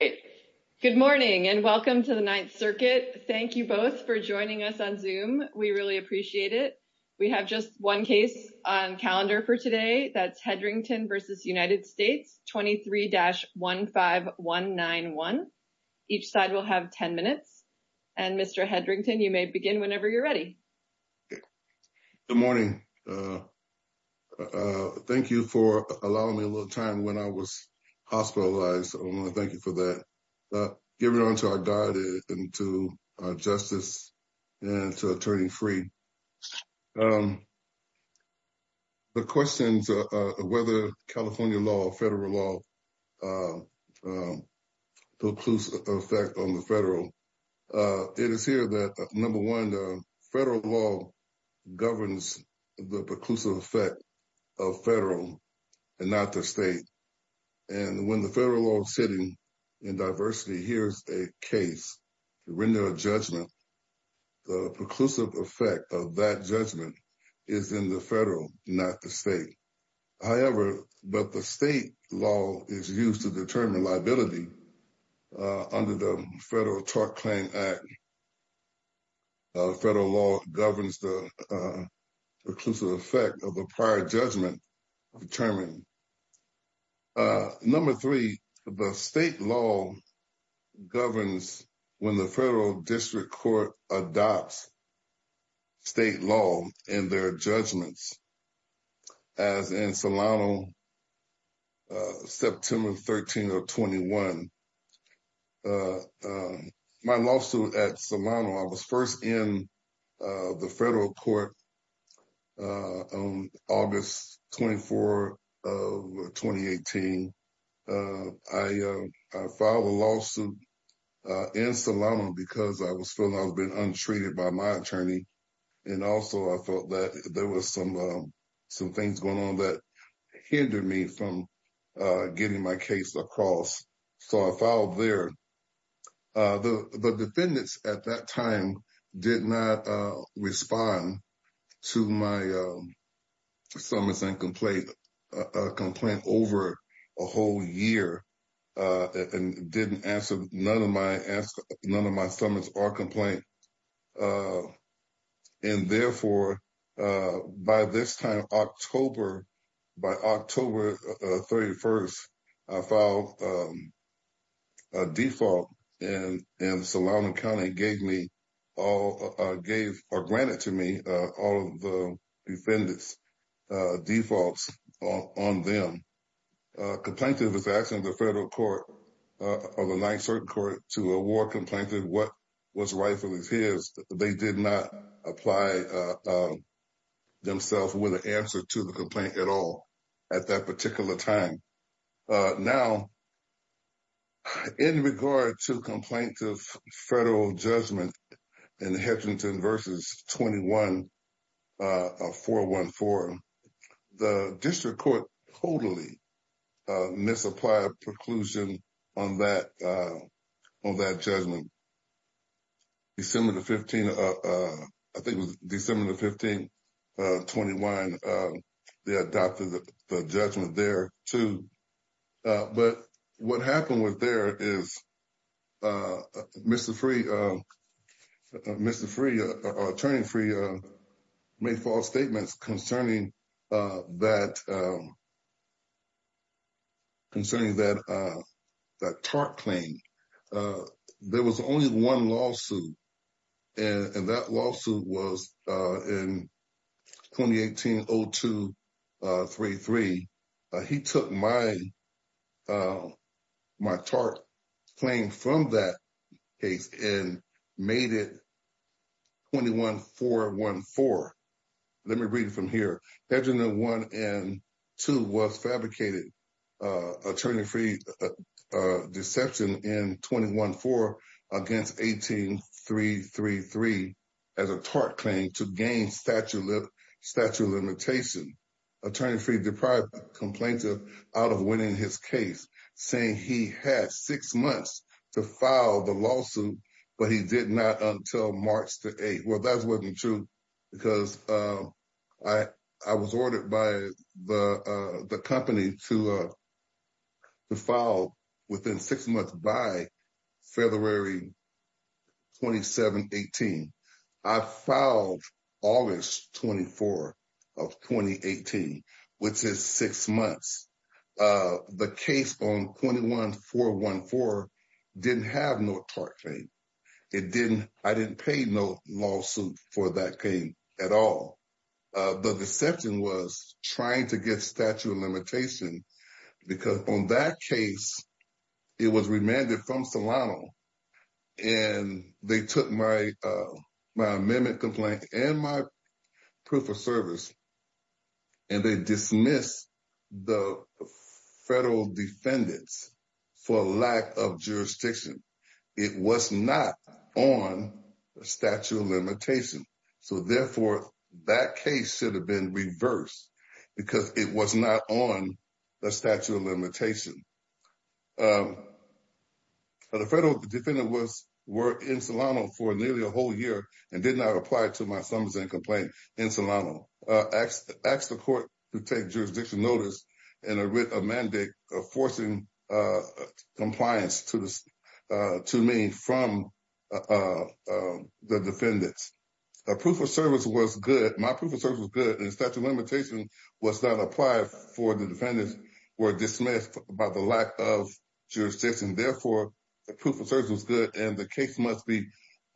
Good morning and welcome to the Ninth Circuit. Thank you both for joining us on Zoom. We really appreciate it. We have just one case on calendar for today. That's Hedrington v. United States, 23-15191. Each side will have 10 minutes. And Mr. Hedrington, you may begin whenever you're ready. Good morning. Thank you for allowing me a little time when I was hospitalized. I want to thank you for that. Give it on to our guide and to our justice and to Attorney Freeh. The questions of whether California law or federal law precludes effect on the federal. It is here that, number one, federal law governs the preclusive effect of federal and not the state. And when the federal law sitting in diversity hears a case to render a judgment, the preclusive effect of that judgment is in the federal, not the state. However, but the state law is used to determine liability under the Federal Tort Claim Act. Federal law governs the preclusive effect of the prior judgment determined. Number three, the state law governs when the federal district court adopts state law in their judgments. As in Solano, September 13 of 21, my lawsuit at Solano, I was first in the federal court on August 24 of 2018. I filed a lawsuit in Solano because I was feeling I was being untreated by my attorney. And also, I felt that there was some things going on that hindered me from getting my case across. So I filed there. The defendants at that time did not respond to my summons and complaint over a whole year and didn't answer none of my summons or complaint and therefore, by this time, October, by October 31st, I filed a default and Solano County gave me all, gave or granted to me all of the defendant's defaults on them. Complaintant was asking the federal court or the Ninth Circuit Court to award complaintant what was rightfully his. They did not apply themselves with an answer to the complaint at all at that particular time. Now, in regard to complaints of federal judgment in Hedgington versus 21-414, the district court totally misapplied preclusion on that judgment. December the 15th, I think it was December the 15th, 21, they adopted the judgment there too. But what happened with there is Mr. Free, Attorney Free, made false statements concerning that TARP claim. There was only one lawsuit and that lawsuit was in 2018-02-33. He took my TARP claim from that case and made it 21-414. Let me read it from here. Hedgington 1 and 2 was fabricated, Attorney Free deception in 21-4 against 18-333 as a TARP claim to gain statute limitation. Attorney Free deprived the complainant out of winning his case saying he had six months to file the lawsuit, but he did not until March the 8th. Well, that wasn't true because I was to file within six months by February 27-18. I filed August 24 of 2018, which is six months. The case on 21-414 didn't have no TARP claim. I didn't pay no lawsuit for that claim at all. The deception was trying to get statute of limitation because on that case, it was remanded from Solano and they took my amendment complaint and my proof of service and they dismissed the federal defendants for lack of jurisdiction. It was not on statute of limitation. So therefore, that case should have been reversed because it was not on the statute of limitation. The federal defendant was in Solano for nearly a whole year and did not apply to my Summersend complaint in Solano. Asked the court to take jurisdiction notice and a mandate of forcing compliance to me from the defendants. The proof of service was good. My proof of service was good and statute of limitation was not applied for the defendants were dismissed by the lack of jurisdiction. Therefore, the proof of service was good and the case must be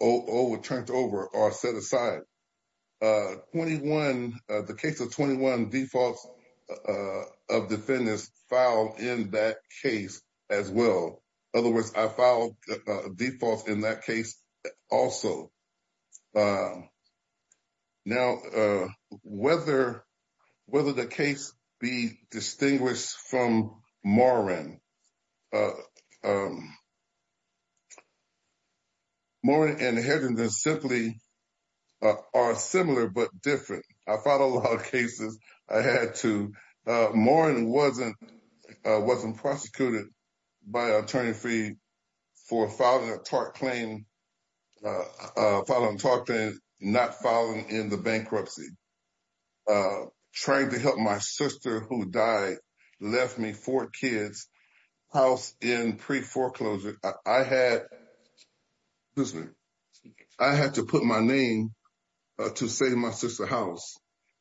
overturned over or set aside. The case of 21 defaults of defendants filed in that case as well. In other words, I filed defaults in that case also. Now, whether the case be distinguished from Morin, Morin and Hedgington simply are similar but different. I filed a lot of cases. I had to. Morin wasn't prosecuted by attorney for filing a TARP claim, filing a TARP claim, not filing in the bankruptcy. Tried to help my sister who died, left me four kids, house in pre-foreclosure. I had to put my name to save my sister's house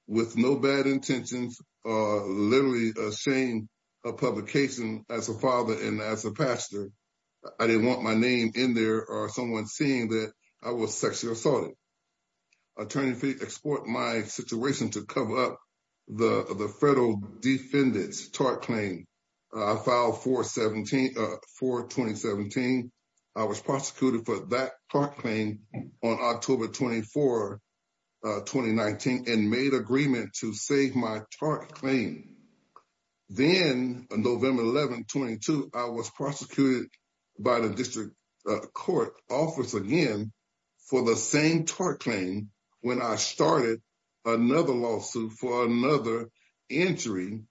with no bad intentions, literally a shame of publication as a father and as a pastor. I didn't want my name in there or someone seeing that I was sexually assaulted. Attorney export my situation to cover up the federal defendants TARP claim. I filed a TARP for 2017. I was prosecuted for that TARP claim on October 24, 2019 and made agreement to save my TARP claim. Then November 11, 22, I was prosecuted by the district court office again for the same TARP claim when I started another lawsuit for another entry,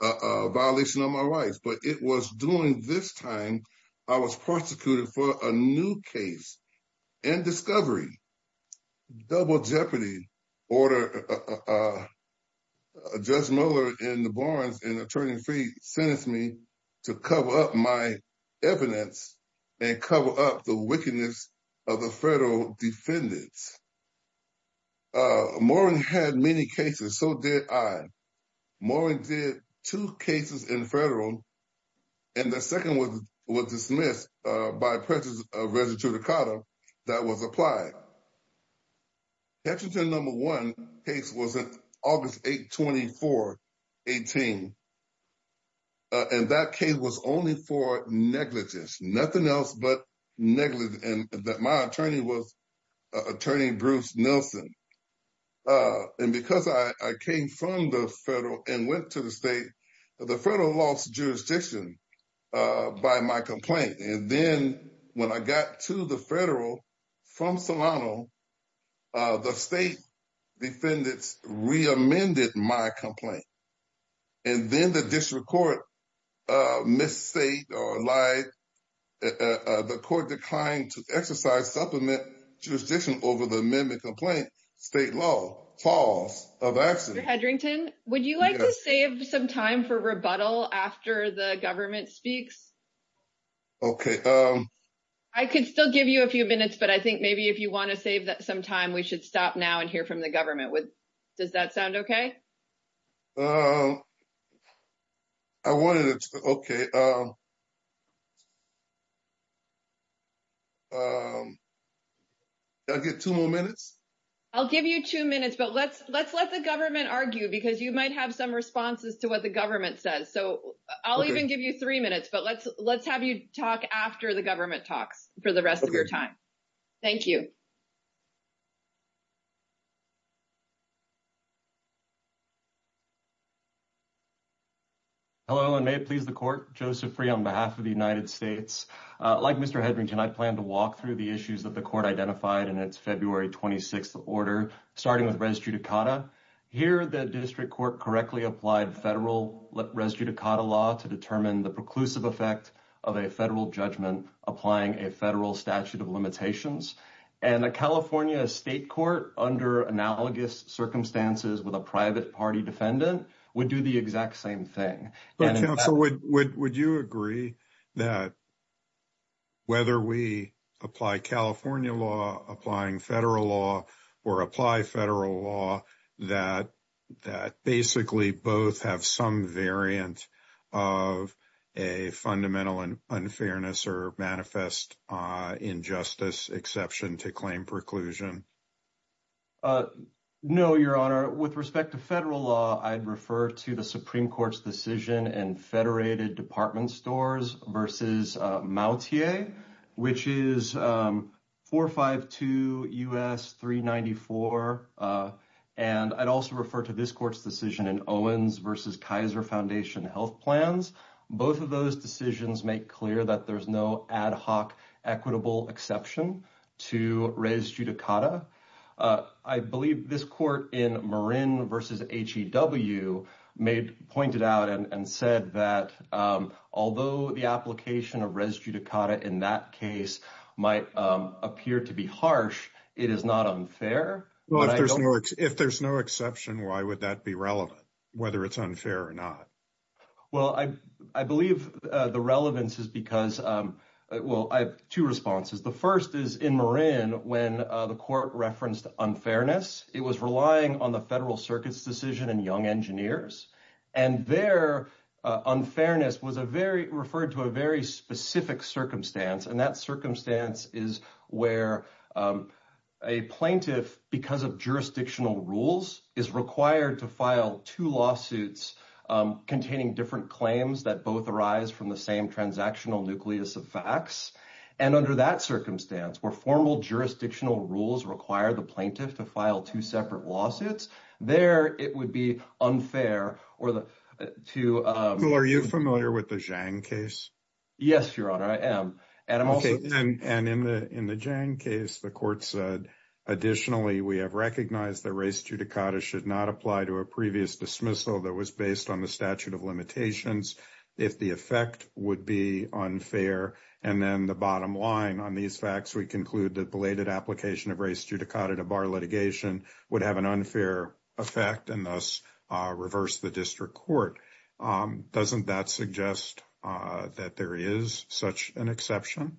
a violation of my rights. But it was during this time, I was prosecuted for a new case and discovery, double jeopardy order. Judge Miller and the Barnes and attorney sentenced me to cover up my evidence and cover up the wickedness of the federal defendants. Morin had many cases, so did I. Morin did two cases in federal and the second was dismissed by President of Register of Dakota that was applied. Hetchington number one case was August 8, 24, 18. And that case was only for negligence, nothing else but negligence and that my attorney was attorney Bruce Nelson. And because I came from the federal and went to the state, the federal lost jurisdiction by my complaint. And then when I got to the federal from Solano, the state defendants reamended my complaint. And then the district court misstate or lied. The court declined to exercise supplement jurisdiction over the amendment complaint, state law, false of accident. Mr. Hedrington, would you like to save some time for rebuttal after the government speaks? Okay. I could still give you a few minutes, but I think maybe if you want to save that some time, we should stop now and hear from the government. Does that sound okay? I wanted to... Okay. I'll get two more minutes. I'll give you two minutes, but let's let the government argue because you might have some responses to what the government says. So I'll even give you three minutes, but let's have you talk after the government talks for the rest of your time. Thank you. Hello, and may it please the court. Joseph Free on behalf of the United States. Like Mr. Hedrington, I plan to walk through the issues that the court identified in its February 26th order, starting with res judicata. Here, the district court correctly applied federal res judicata law to determine the preclusive effect of a federal judgment applying a federal statute of limitations. And the California state court under analogous circumstances with a private party defendant would do the exact same thing. Counsel, would you agree that whether we apply California law, applying federal law, or apply federal law, that basically both have some variant of a fundamental unfairness or manifest injustice exception to claim preclusion? No, your honor. With respect to federal law, I'd refer to the Supreme Court's decision and federated department stores versus Mautier, which is 452 U.S. 394. And I'd also refer to this court's decision in Owens versus Kaiser Foundation health plans. Both of those decisions make clear that there's no ad hoc equitable exception to res judicata. I believe this court in Marin versus HEW pointed out and said that although the application of res judicata in that case might appear to be harsh, it is not unfair. If there's no exception, why would that be relevant, whether it's unfair or not? Well, I believe the relevance is because, well, I have two responses. The first is in Marin when the court referenced unfairness, it was relying on the federal circuit's decision and young engineers. And their unfairness was referred to a very specific circumstance. And that circumstance is where a plaintiff, because of jurisdictional rules, is required to file two lawsuits containing different claims that both arise from the same transactional nucleus of facts. And under that circumstance, where formal jurisdictional rules require the plaintiff to file two separate lawsuits, there it would be unfair or the two. Are you familiar with the Zhang case? Yes, your honor. I am. And I'm okay. And in the Zhang case, the court said, additionally, we have recognized the res judicata should not apply to a previous dismissal that was based on the statute of limitations. If the effect would be unfair. And then the bottom line on these facts, we conclude that belated application of res judicata to bar litigation would have an unfair effect and thus reverse the district court. Doesn't that suggest that there is such an exception?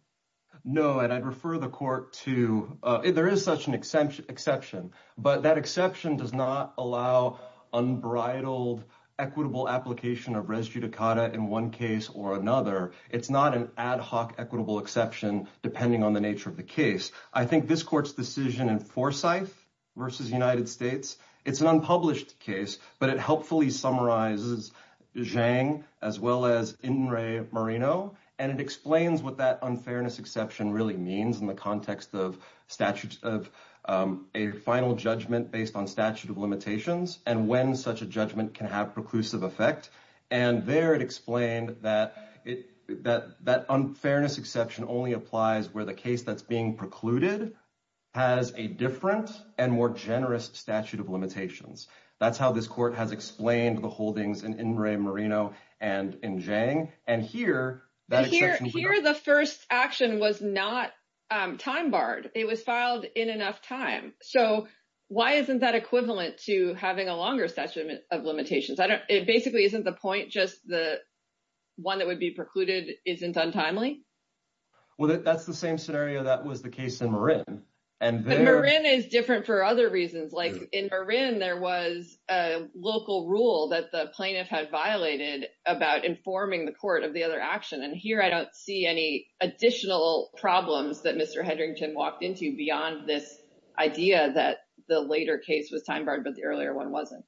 No. And I'd refer the court to, there is such an exception, but that exception does not allow unbridled equitable application of res judicata in one case or another. It's not an ad hoc equitable exception, depending on the nature of the case. I think this court's decision in Forsyth versus the United States, it's an unpublished case, but it helpfully summarizes Zhang as well as Marino. And it explains what that unfairness exception really means in the context of statute of a final judgment based on statute of limitations and when such a judgment can have preclusive effect. And there it explained that unfairness exception only applies where the case that's being precluded has a different and more generous statute of limitations. That's how this court has explained the holdings in Ingram, Marino, and in Zhang. And here- Here, the first action was not time barred. It was filed in enough time. So why isn't that equivalent to having a longer statute of limitations? It basically isn't the point, just the one that would be precluded isn't untimely? Well, that's the same scenario that was the case in Marin. And there- But Marin is different for other reasons. Like in Marin, there was a local rule that the plaintiff had violated about informing the court of the other action. And here, I don't see any additional problems that Mr. Hedrington walked into beyond this idea that the later case was time barred, but the earlier one wasn't.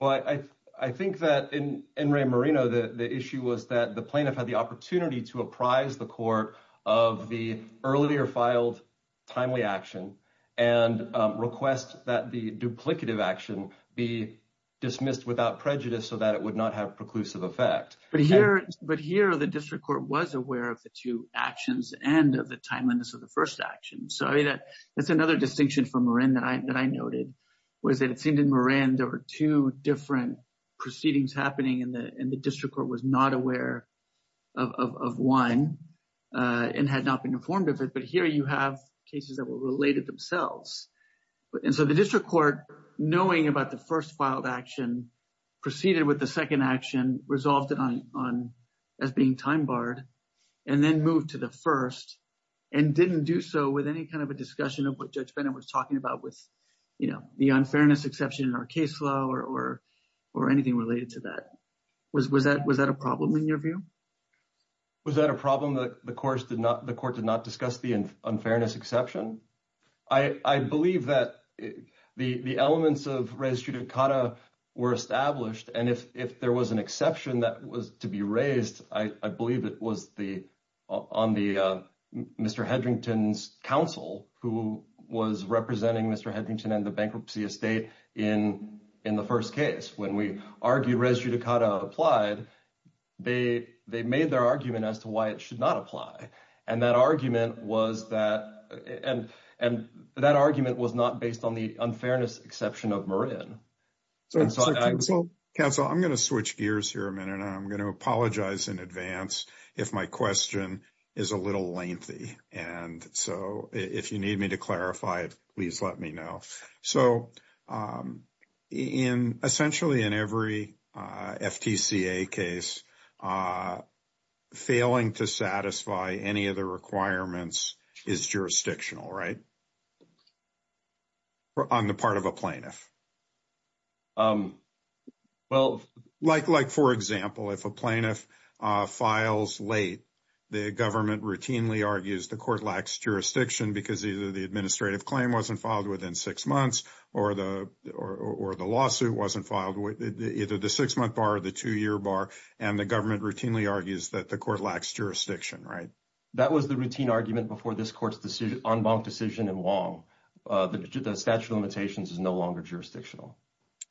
Well, I think that in Ingram, Marino, the issue was that the plaintiff had the opportunity to apprise the court of the earlier filed timely action and request that the duplicative action be dismissed without prejudice so that it would not have preclusive effect. But here, the district court was aware of the two actions and of the timeliness of the first action. So that's another distinction from Marin that I noted, was that it seemed in Marin, there were two different proceedings happening and the district court was not aware of one and had not been informed of it. But here, you have cases that were related themselves. And so the district court, knowing about the first filed action, proceeded with the second action, resolved it as being time barred, and then moved to the first and didn't do so with any kind of a discussion of what Judge Bennett was talking about with the unfairness exception in our case law or anything related to that. Was that a problem in your view? Was that a problem that the court did not discuss the unfairness exception? I believe that the elements of res judicata were established. And if there was an exception that was to be raised, I believe it was on Mr. Hedrington's counsel who was representing Mr. Hedrington and the bankruptcy estate in the first case. When we argue res judicata applied, they made their argument as to why it should not apply. And that argument was not based on the unfairness exception of Marin. Counsel, I'm going to switch gears here a minute. I'm going to apologize in advance if my question is a little lengthy. And so if you need me to clarify it, please let me know. So in essentially in every FTCA case, failing to satisfy any of the requirements is jurisdictional, right? On the part of a plaintiff. Well, like for example, if a plaintiff files late, the government routinely argues the court lacks jurisdiction because either the administrative claim wasn't filed within six months or the lawsuit wasn't filed, either the six-month bar or the two-year bar, and the government routinely argues that the court lacks jurisdiction, right? That was the routine argument before this court's decision, en banc decision in Wong. The statute of limitations is no longer jurisdictional.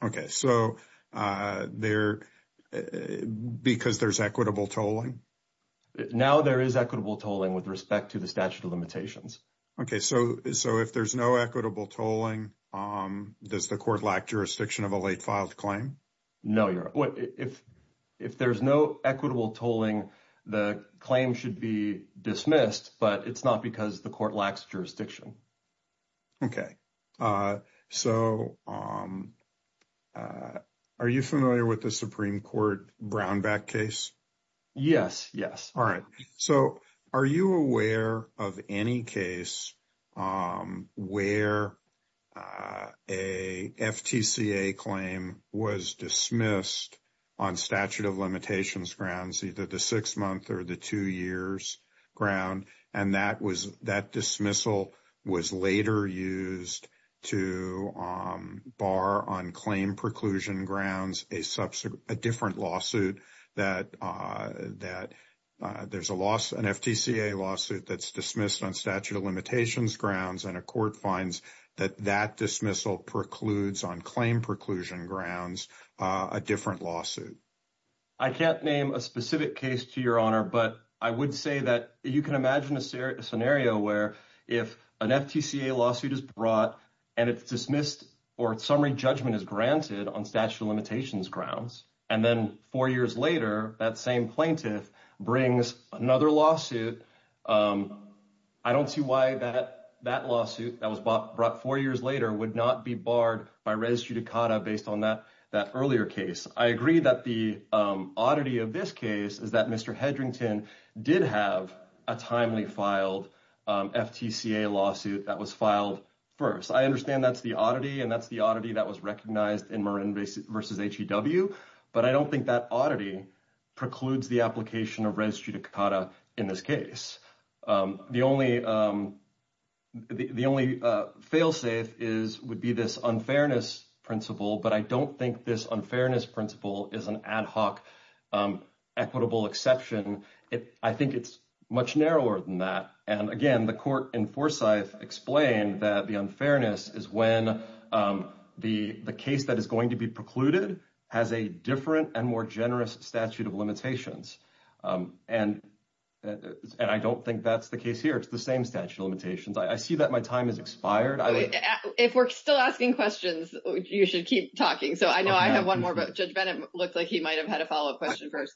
Okay. So because there's equitable tolling? Now there is equitable tolling with respect to the statute of limitations. Okay. So if there's no equitable tolling, does the court lack jurisdiction of a late filed claim? No. If there's no equitable tolling, the claim should be dismissed, but it's not because the court lacks jurisdiction. Okay. So are you familiar with the Supreme Court Brownback case? Yes. Yes. All right. So are you aware of any case where a FTCA claim was dismissed on statute of limitations grounds, either the six-month or the two-years ground, and that dismissal was later used to bar on claim preclusion grounds a different lawsuit that there's a loss, an FTCA lawsuit that's dismissed on statute of limitations grounds, and a court finds that that dismissal precludes on claim preclusion grounds a different lawsuit? I can't name a specific case to your honor, but I would say that you can imagine a scenario where if an FTCA lawsuit is brought and it's dismissed or summary judgment is granted on statute of limitations grounds, and then four years later, that same plaintiff brings another lawsuit, I don't see why that lawsuit that was brought four years later would not be barred by res judicata based on that earlier case. I agree that the oddity of this case is that Mr. Hedrington did have a timely filed FTCA lawsuit that was filed first. I understand that's the oddity that was recognized in Marin versus HEW, but I don't think that oddity precludes the application of res judicata in this case. The only fail safe would be this unfairness principle, but I don't think this unfairness principle is an ad hoc equitable exception. I think it's much narrower than that. Again, the court in Forsyth explained that the unfairness is when the case that is going to be precluded has a different and more generous statute of limitations. I don't think that's the case here. It's the same statute of limitations. I see that my time has expired. If we're still asking questions, you should keep talking. I know I have one more, but Judge Bennett looked like he might've had a follow-up question first.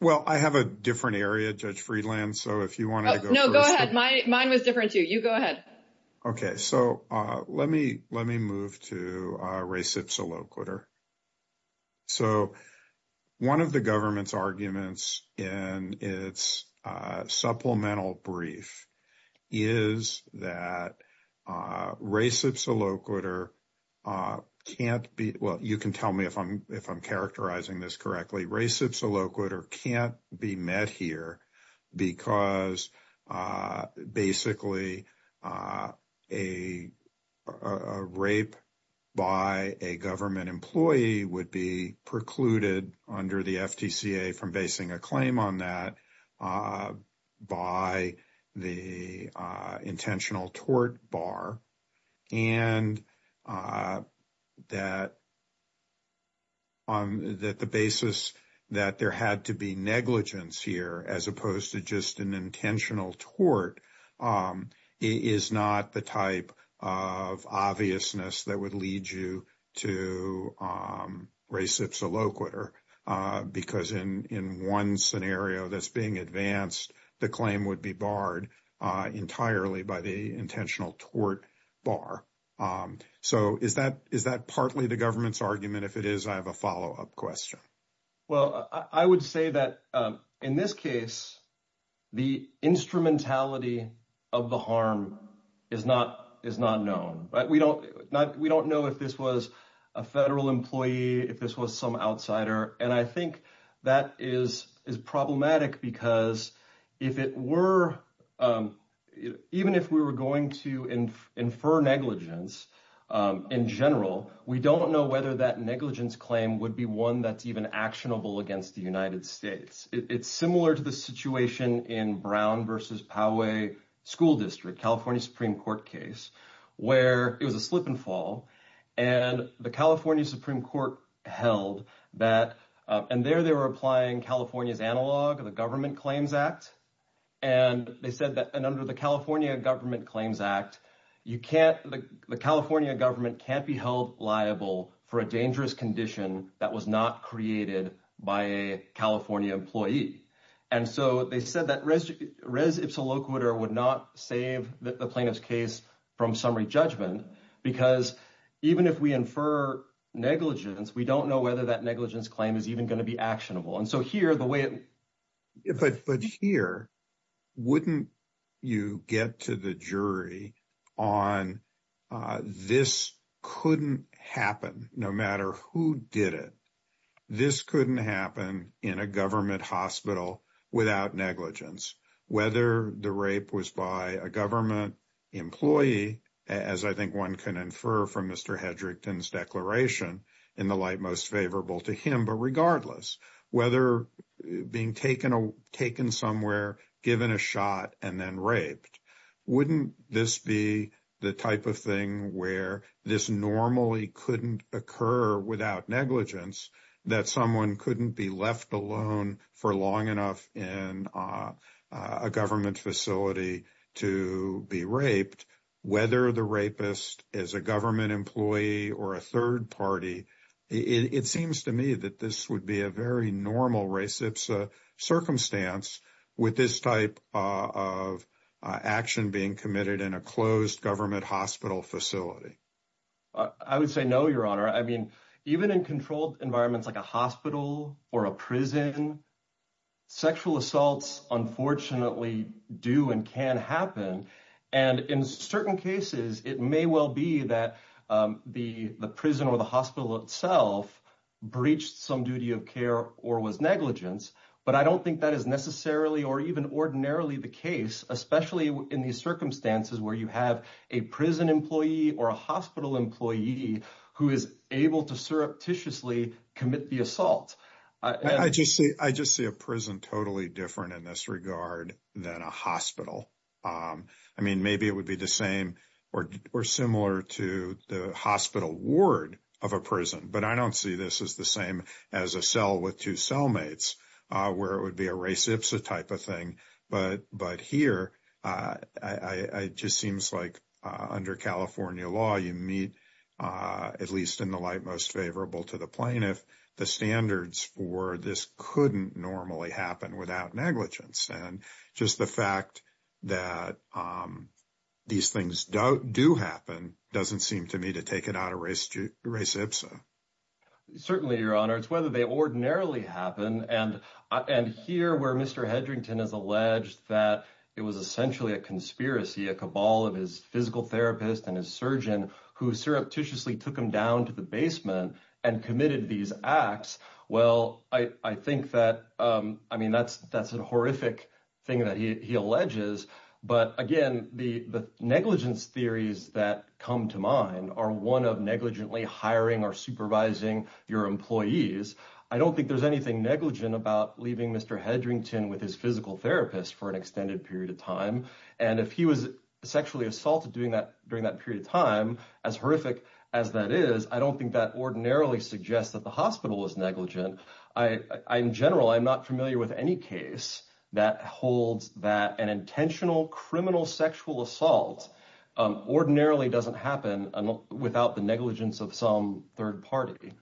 Well, I have a different area, Judge Friedland, so if you want to go first- No, go ahead. Mine was different too. You go ahead. Okay. Let me move to res ipsa loquitur. One of the government's arguments in its supplemental brief is that res ipsa loquitur can't be... Well, you can tell me if I'm characterizing this correctly. Res ipsa loquitur can't be met here because basically a rape by a government employee would be precluded under the FTCA from basing a claim on that by the intentional tort bar and that the basis that there had to be negligence here as opposed to just an intentional tort is not the type of obviousness that would lead you to res ipsa loquitur because in one scenario that's being advanced, the claim would be barred entirely by the intentional tort bar. So is that partly the government's argument? If it is, I have a follow-up question. Well, I would say that in this case, the instrumentality of the harm is not known. We don't know if this was a federal employee, if this was some outsider. And I think that is problematic because even if we were going to infer negligence in general, we don't know whether that negligence claim would be one that's even actionable against the United States. It's similar to the situation in Brown versus Poway School District, California Supreme Court case, where it was a slip and fall and the California Supreme Court held that, and there they were applying California's analog of the Government Claims Act. And they said that, and under the California Government Claims Act, the California government can't be held liable for a dangerous condition that was not created by a California employee. And so they said that res ipsa loquitur would not save the plaintiff's case from summary judgment, because even if we infer negligence, we don't know whether that negligence claim is even going to be actionable. And so here, the way it... But here, wouldn't you get to the jury on this couldn't happen, no matter who did it. This couldn't happen in a government hospital without negligence, whether the rape was by a government employee, as I think one can infer from Mr. Hedrickton's declaration, in the light most favorable to him. But regardless, whether being taken somewhere, given a shot, and then raped, wouldn't this be the type of thing where this normally couldn't occur without negligence, that someone couldn't be left alone for long enough in a government facility to be raped, whether the rapist is a government employee or a third party. It seems to me that this would be a very normal res ipsa circumstance with this type of action being committed in a closed government hospital facility. I would say no, Your Honor. I mean, even in controlled environments like a hospital or a prison, sexual assaults unfortunately do and can happen. And in certain cases, it may well be that the prison or the hospital itself breached some duty of care or was negligence. But I don't think that is necessarily or even ordinarily the case, especially in these circumstances where you have a prison employee or a hospital employee who is able to surreptitiously commit the assault. I just see a prison totally different in this regard than a hospital. I mean, maybe it would be the same or similar to the hospital ward of a prison. But I don't see this as the same as a cell with two cellmates, where it would be a res ipsa type of thing. But here, it just seems like under California law, you meet, at least in the light most favorable to the plaintiff, the standards for this couldn't normally happen without negligence. And just the fact that these things do happen doesn't seem to me to take it out of res ipsa. Certainly, Your Honor. It's whether they ordinarily happen. And here, where Mr. Hedrington has alleged that it was essentially a conspiracy, a cabal of his physical therapist and his surgeon who surreptitiously took him down to the basement and committed these acts. Well, I think that, I mean, that's a horrific thing that he alleges. But again, the negligence theories that come to mind are one of negligently hiring or supervising your employees. I don't think there's anything negligent about leaving Mr. Hedrington with his physical therapist for an extended period of time. And if he was sexually assaulted during that period of time, as horrific as that is, I don't think that ordinarily suggests that the hospital was negligent. In general, I'm not familiar with any case that holds that an intentional criminal sexual assault ordinarily doesn't happen without the negligence of some third party.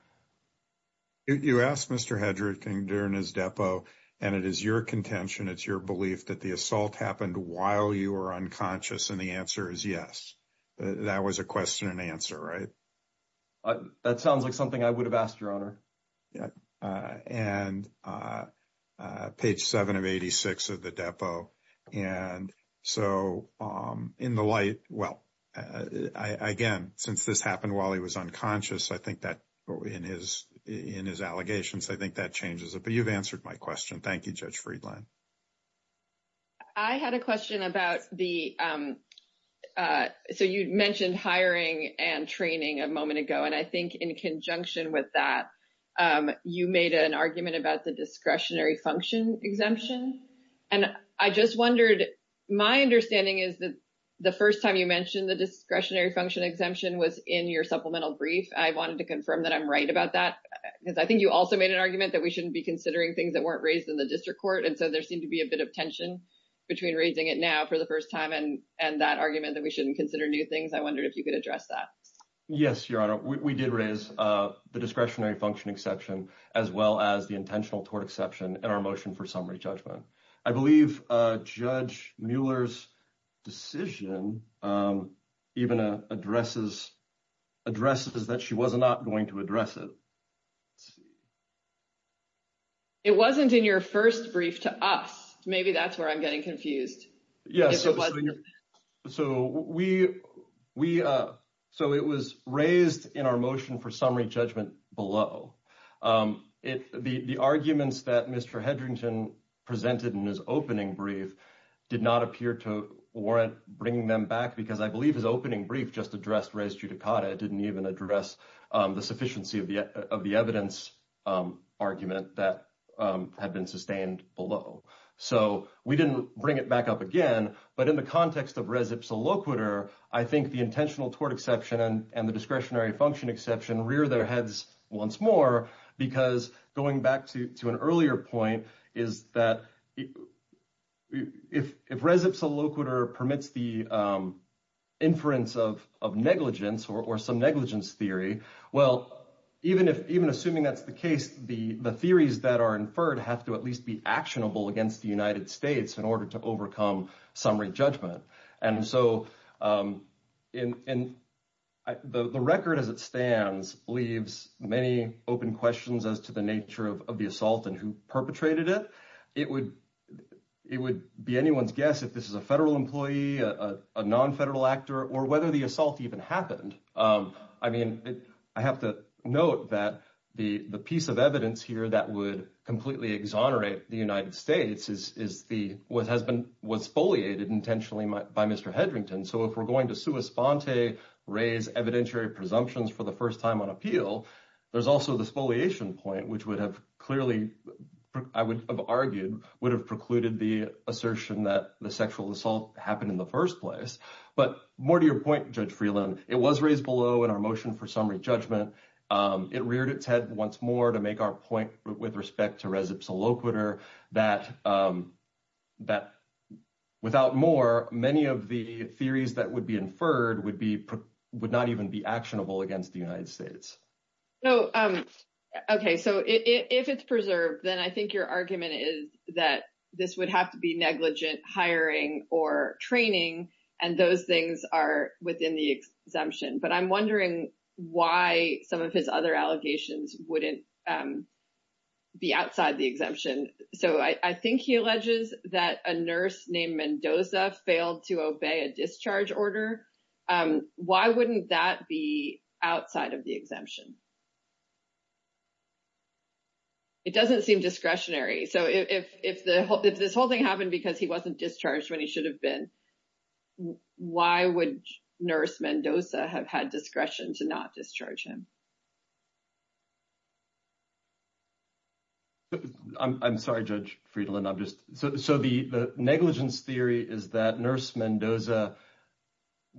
You asked Mr. Hedrick during his depo, and it is your contention, it's your belief that the assault happened while you were unconscious. And the answer is yes. That was a question and answer, right? That sounds like something I would have asked, Your Honor. And page 7 of 86 of the depo. And so in the light, well, again, since this happened while he was unconscious, I think that in his allegations, I think that changes it. But you've answered my question. Thank you, Judge Friedland. I had a question about the, so you mentioned hiring and training a moment ago. And I think in conjunction with that, you made an argument about the discretionary function exemption. And I just wondered, my understanding is that the first time you mentioned the discretionary function exemption was in your supplemental brief. I wanted to confirm that I'm right about that. Because I think you also made an argument that we shouldn't be considering things that weren't raised in the district court. And so there seemed to be a bit of tension between raising it now for the first time and that argument that we shouldn't consider new things. I wondered if you could address that. Yes, Your Honor. We did raise the discretionary function exception, as well as the intentional tort exception in our motion for summary judgment. I believe Judge Mueller's decision even addresses that she was not going to address it. It wasn't in your first brief to us. Maybe that's where I'm getting confused. Yes. So it was raised in our motion for summary judgment below. The arguments that Mr. Hedrington presented in his opening brief did not appear to warrant bringing them back. Because I believe his opening brief just addressed res judicata. It didn't even address the sufficiency of the evidence argument that had been sustained below. So we didn't bring it back up again. But in the context of res ipsa loquitur, I think the intentional tort exception and the discretionary function exception rear their heads once more. Because going back to an earlier point is that if res ipsa loquitur permits the inference of negligence or some negligence theory, well, even assuming that's the case, the theories that are inferred have to at least be actionable against the United States in order to overcome summary judgment. And so the record as it stands leaves many open questions as to the nature of the assault and who perpetrated it. It would be anyone's guess if this is a federal employee, a non-federal actor, or whether the assault even happened. I mean, I have to note that the piece of evidence here that would completely exonerate the United States is what was foliated intentionally by Mr. Hedrington. So if we're going to sua sponte, raise evidentiary presumptions for the first time on appeal, there's also this foliation point, which would have clearly, I would have argued, would have precluded the assertion that the sexual assault happened in the first place. But more to your point, Judge Freeland, it was raised below in our motion for summary judgment. It reared its head once more to make our point with respect to res ipsa loquitur that without more, many of the theories that would be inferred would not even be actionable against the United States. Okay. So if it's preserved, then I think your argument is that this would have to be negligent hiring or training, and those things are within the exemption. But I'm wondering why some of his other allegations wouldn't be outside the exemption. So I think he alleges that a nurse named Mendoza failed to obey a discharge order. Why wouldn't that be outside of the exemption? It doesn't seem discretionary. So if this whole thing happened because he wasn't to not discharge him. I'm sorry, Judge Freeland. So the negligence theory is that nurse Mendoza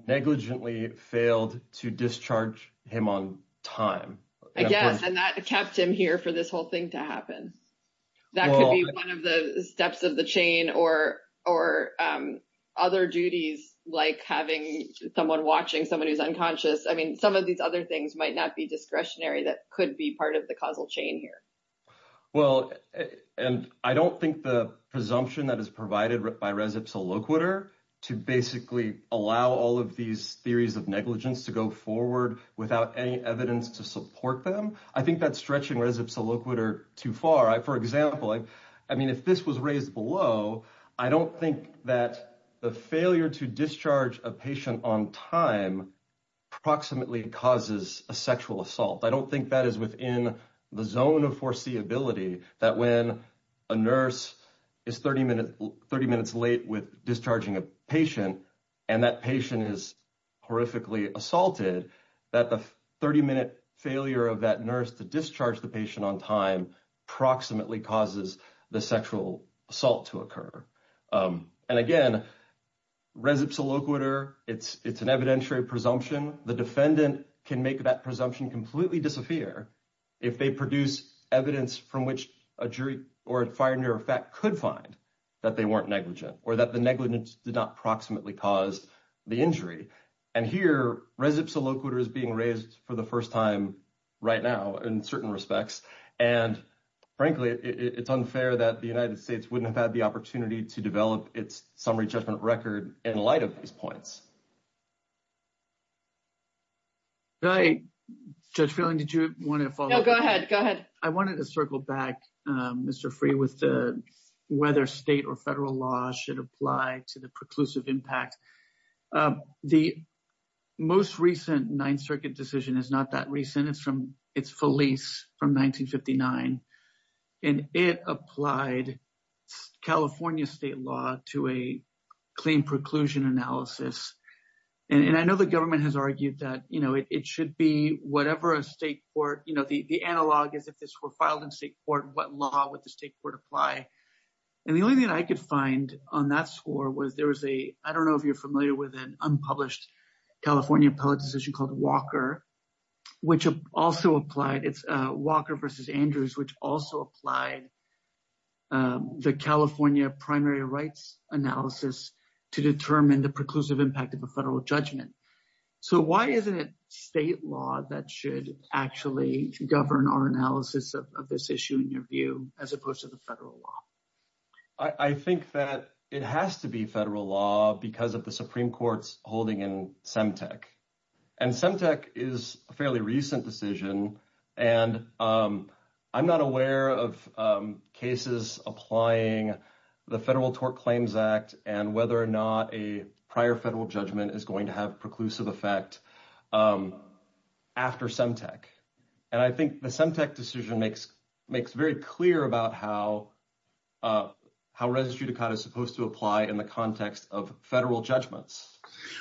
negligently failed to discharge him on time. Yes, and that kept him here for this whole thing to happen. That could be one of the steps of the chain or other duties like having someone watching someone who's unconscious. I mean, some of these other things might not be discretionary that could be part of the causal chain here. Well, and I don't think the presumption that is provided by res ipsa loquitur to basically allow all of these theories of negligence to go forward without any evidence to support them. I think that's stretching res ipsa loquitur too far. For example, I mean, if this was raised below, I don't think that the failure to discharge a patient on time approximately causes a sexual assault. I don't think that is within the zone of foreseeability that when a nurse is 30 minutes late with discharging a patient and that patient is horrifically assaulted, that the 30 minute failure of that nurse to discharge the patient on time approximately causes the sexual assault to occur. And again, res ipsa loquitur, it's an evidentiary presumption. The defendant can make that presumption completely disappear if they produce evidence from which a jury or a fire near effect could find that they weren't negligent or that the negligence did not approximately cause the injury. And here, res ipsa loquitur is being raised for the first time right now in certain respects. And frankly, it's unfair that the United States wouldn't have had the opportunity to develop its summary judgment record in light of these points. Judge Phelan, did you want to follow up? No, go ahead. Go ahead. I wanted to circle back, Mr. Freeh, with whether state or federal laws should apply to the state court. And I know the government has argued that, you know, it should be whatever a state court, you know, the analog is if this were filed in state court, what law would the state court apply? And the only thing that I could find on that score was there was a, I don't know if you're which also applied. It's Walker versus Andrews, which also applied the California primary rights analysis to determine the preclusive impact of a federal judgment. So why isn't it state law that should actually govern our analysis of this issue in your view, as opposed to the federal law? I think that it has to be federal law because of the Supreme Court's holding in Semtec. And Semtec is a fairly recent decision. And I'm not aware of cases applying the Federal Tort Claims Act and whether or not a prior federal judgment is going to have preclusive effect after Semtec. And I think the Semtec decision makes very clear about how res judicata is supposed to apply in the context of federal judgments.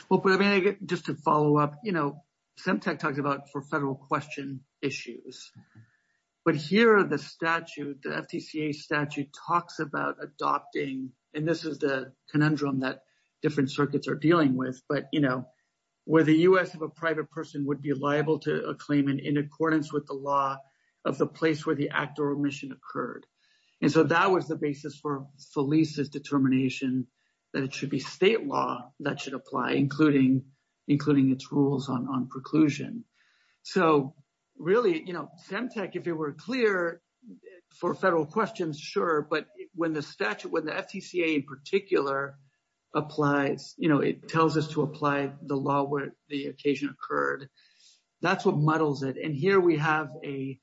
Well, but I mean, just to follow up, you know, Semtec talks about for federal question issues. But here are the statute, the FTCA statute talks about adopting, and this is the conundrum that different circuits are dealing with, but you know, where the U.S. of a private person would be liable to a claim in accordance with the law of the place where the act or omission occurred. And so that was the basis for Felice's determination that it should be state law that should apply, including its rules on preclusion. So really, you know, Semtec, if it were clear for federal questions, sure. But when the statute, when the FTCA in particular applies, you know, it tells us to apply the law where the occasion occurred. That's what muddles it. And here we have a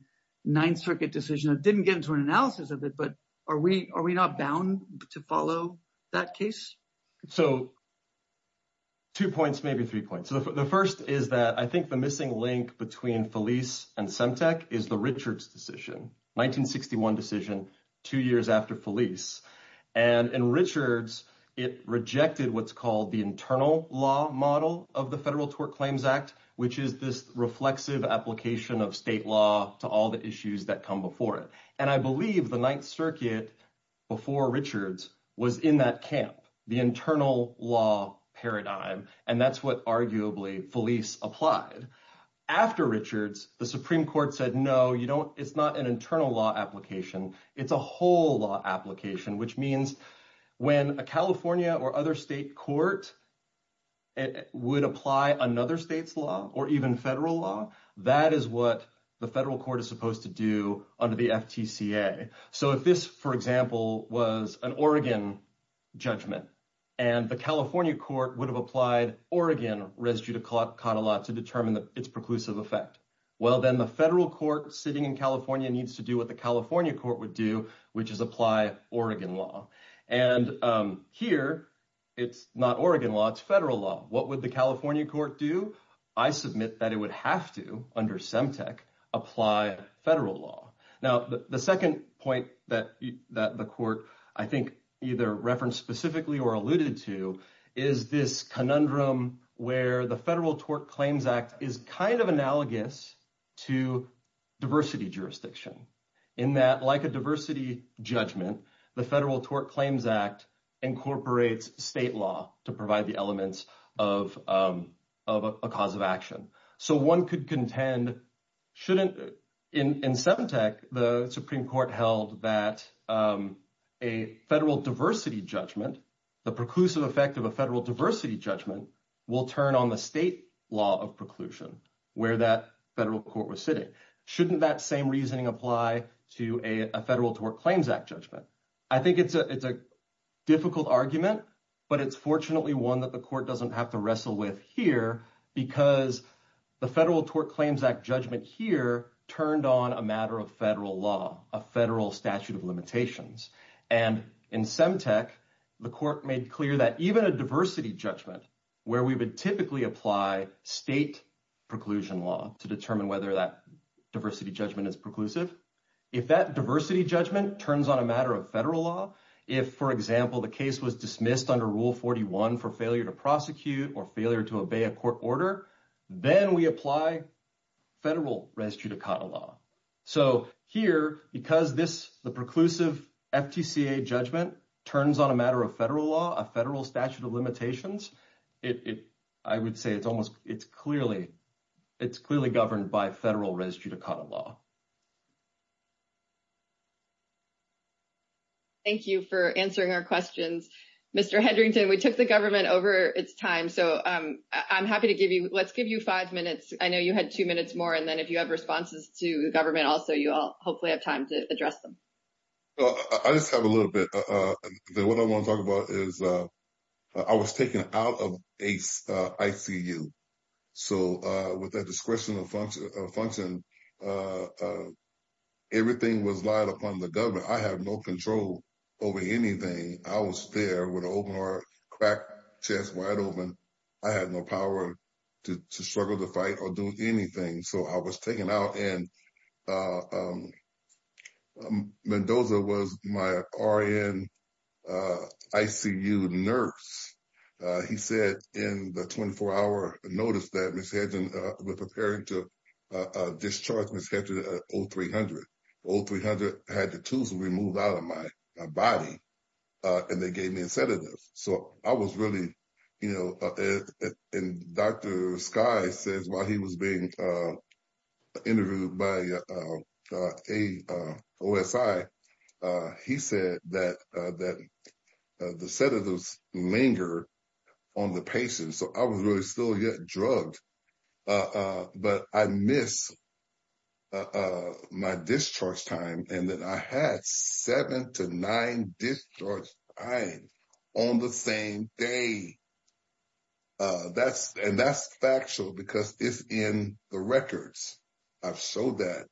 Ninth Circuit decision that didn't get into an analysis of it, but are we not bound to follow that case? So two points, maybe three points. So the first is that I think the missing link between Felice and Semtec is the Richards decision, 1961 decision, two years after Felice. And Richards, it rejected what's called the internal law model of the Federal Tort Claims Act, which is this reflexive application of state law to all the issues that come before it. And I believe the Ninth Circuit before Richards was in that camp, the internal law paradigm. And that's what arguably Felice applied. After Richards, the Supreme Court said, no, you don't, it's not an internal law application. It's a whole law application, which means when a California or other state court would apply another state's law or even federal law, that is what the federal court is supposed to do under the FTCA. So if this, for example, was an Oregon judgment and the California court would have applied Oregon residue to Cottlet to determine its preclusive effect. Well, then the federal court sitting in California needs to do what the California court would do, which is apply Oregon law. And here, it's not Oregon law, it's federal law. What would the California court do? I submit that it would have to, under SEMTEC, apply federal law. Now, the second point that the court, I think, either referenced specifically or alluded to is this conundrum where the Federal Tort Claims Act is kind of analogous to diversity jurisdiction. In that, like a diversity judgment, the Federal Court operates state law to provide the elements of a cause of action. So one could contend, shouldn't, in SEMTEC, the Supreme Court held that a federal diversity judgment, the preclusive effect of a federal diversity judgment will turn on the state law of preclusion where that federal court was sitting. Shouldn't that same reasoning apply to a Federal Tort Claims Act judgment? I think it's a difficult argument, but it's fortunately one that the court doesn't have to wrestle with here because the Federal Tort Claims Act judgment here turned on a matter of federal law, a federal statute of limitations. And in SEMTEC, the court made clear that even a diversity judgment where we would typically apply state preclusion law to determine whether that diversity judgment is preclusive, if that diversity judgment turns on a matter of federal law, if, for example, the case was dismissed under Rule 41 for failure to prosecute or failure to obey a court order, then we apply federal res judicata law. So here, because this, the preclusive FTCA judgment turns on a matter of federal law, a federal statute of limitations, it, I would say it's almost, it's clearly, it's clearly governed by federal res judicata law. Thank you for answering our questions. Mr. Hendrington, we took the government over its time, so I'm happy to give you, let's give you five minutes. I know you had two minutes more, and then if you have responses to the government also, you all hopefully have time to address them. I just have a little bit. What I want to talk about is I was taken out of ICU. So with that discretion of function, everything was relied upon the government. I have no control over anything. I was there with an open heart, cracked chest, wide open. I had no power to struggle to fight or do anything. So I was taken out and Mendoza was my RN ICU nurse. He said in the 24-hour notice that Ms. Hendrington was preparing to discharge Ms. Hendrington at 0300. 0300 had the tooth removed out of my body, and they gave So I was really, you know, and Dr. Skye says while he was being interviewed by AOSI, he said that the sedatives linger on the patient. So I was really still getting drugged, but I missed my discharge time, and then I had seven to nine discharge times on the same day. And that's factual because it's in the records. I've showed that.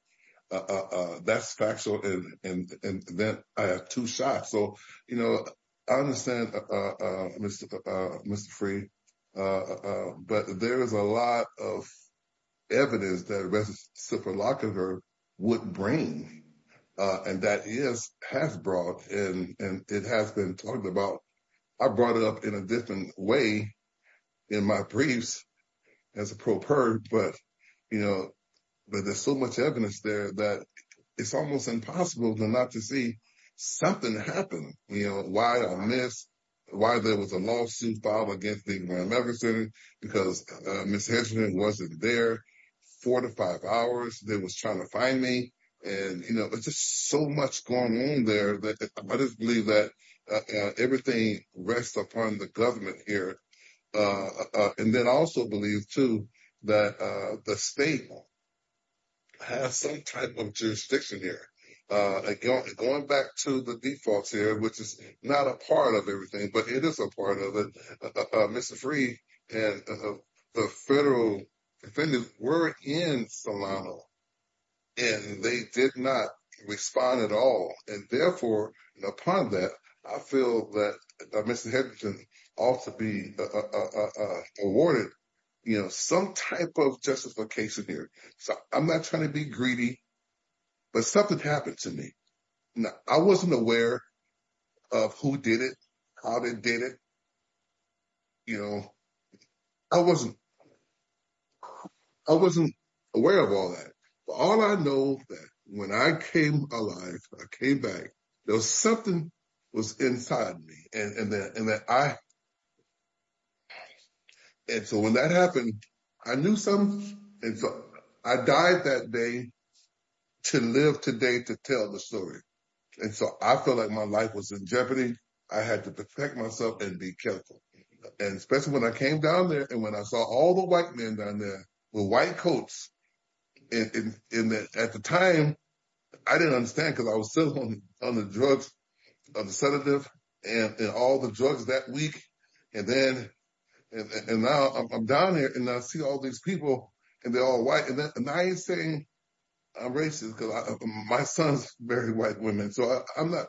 That's factual, and then I have two shots. So, you know, I understand, Mr. Frey, but there is a lot of evidence that resuciproloquia would bring, and that is, has brought, and it has been talked about. I brought it up in a different way in my briefs as a pro per, but, you know, but there's so much evidence there that it's almost impossible not to see something happen, you know, why I missed, why there was a lawsuit filed against the Grand Rapids Center because Ms. Hendrington wasn't there four to five hours. They was trying to find me, and, you know, it's just so much going on there that I just believe that everything rests upon the government here. And then I also believe, too, that the state has some type of jurisdiction here. Going back to the defaults here, which is not a part of everything, but it is a part of it, Mr. Frey and the federal defendants were in Solano, and they did not respond at all. And therefore, upon that, I feel that Ms. Hendrington ought to be awarded, you know, some type of justification here. So, I'm not trying to be greedy, but something happened to me. I wasn't aware of who did it, how they did it, you know, I wasn't aware of all that. But all I know that when I came alive, I came back, there was something was inside me. And so, when that happened, I knew something. And so, I died that day to live today to tell the story. And so, I felt like my life was in jeopardy. I had to protect myself and be careful. And especially when I came down there, and when I saw all the white men down there with white coats, and at the time, I didn't understand because I was still on the drugs, on the sedative, and all the drugs that week. And then, and now I'm down here, and I see all these people, and they're all white. And I ain't saying I'm racist, because my son's married white women. So, I'm not.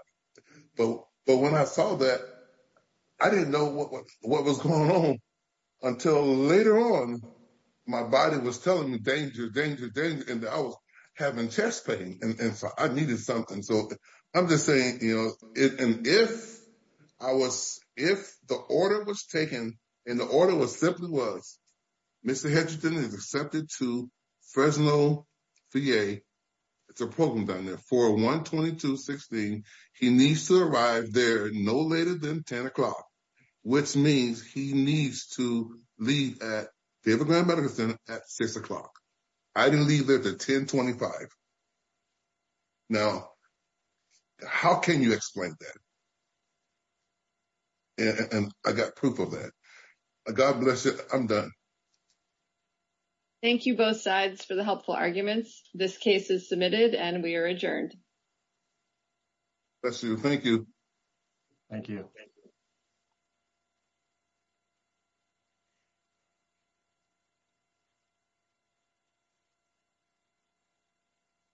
But when I saw that, I didn't know what was going on until later on, my body was telling me danger, danger, danger, and I was having chest pain. And so, I needed something. So, I'm just saying, you know, and if I was, if the order was taken, and the order simply was, Mr. Hedgerton is accepted to Fresno VA, it's a program down there, 412216, he needs to arrive there no later than 10 o'clock, which means he needs to leave at David Graham Medical Center at 6 o'clock. I didn't leave there till 1025. Now, how can you explain that? And I got proof of that. God bless you, I'm done. Thank you both sides for the helpful arguments. This case is submitted and we are adjourned. Bless you. Thank you. Thank you.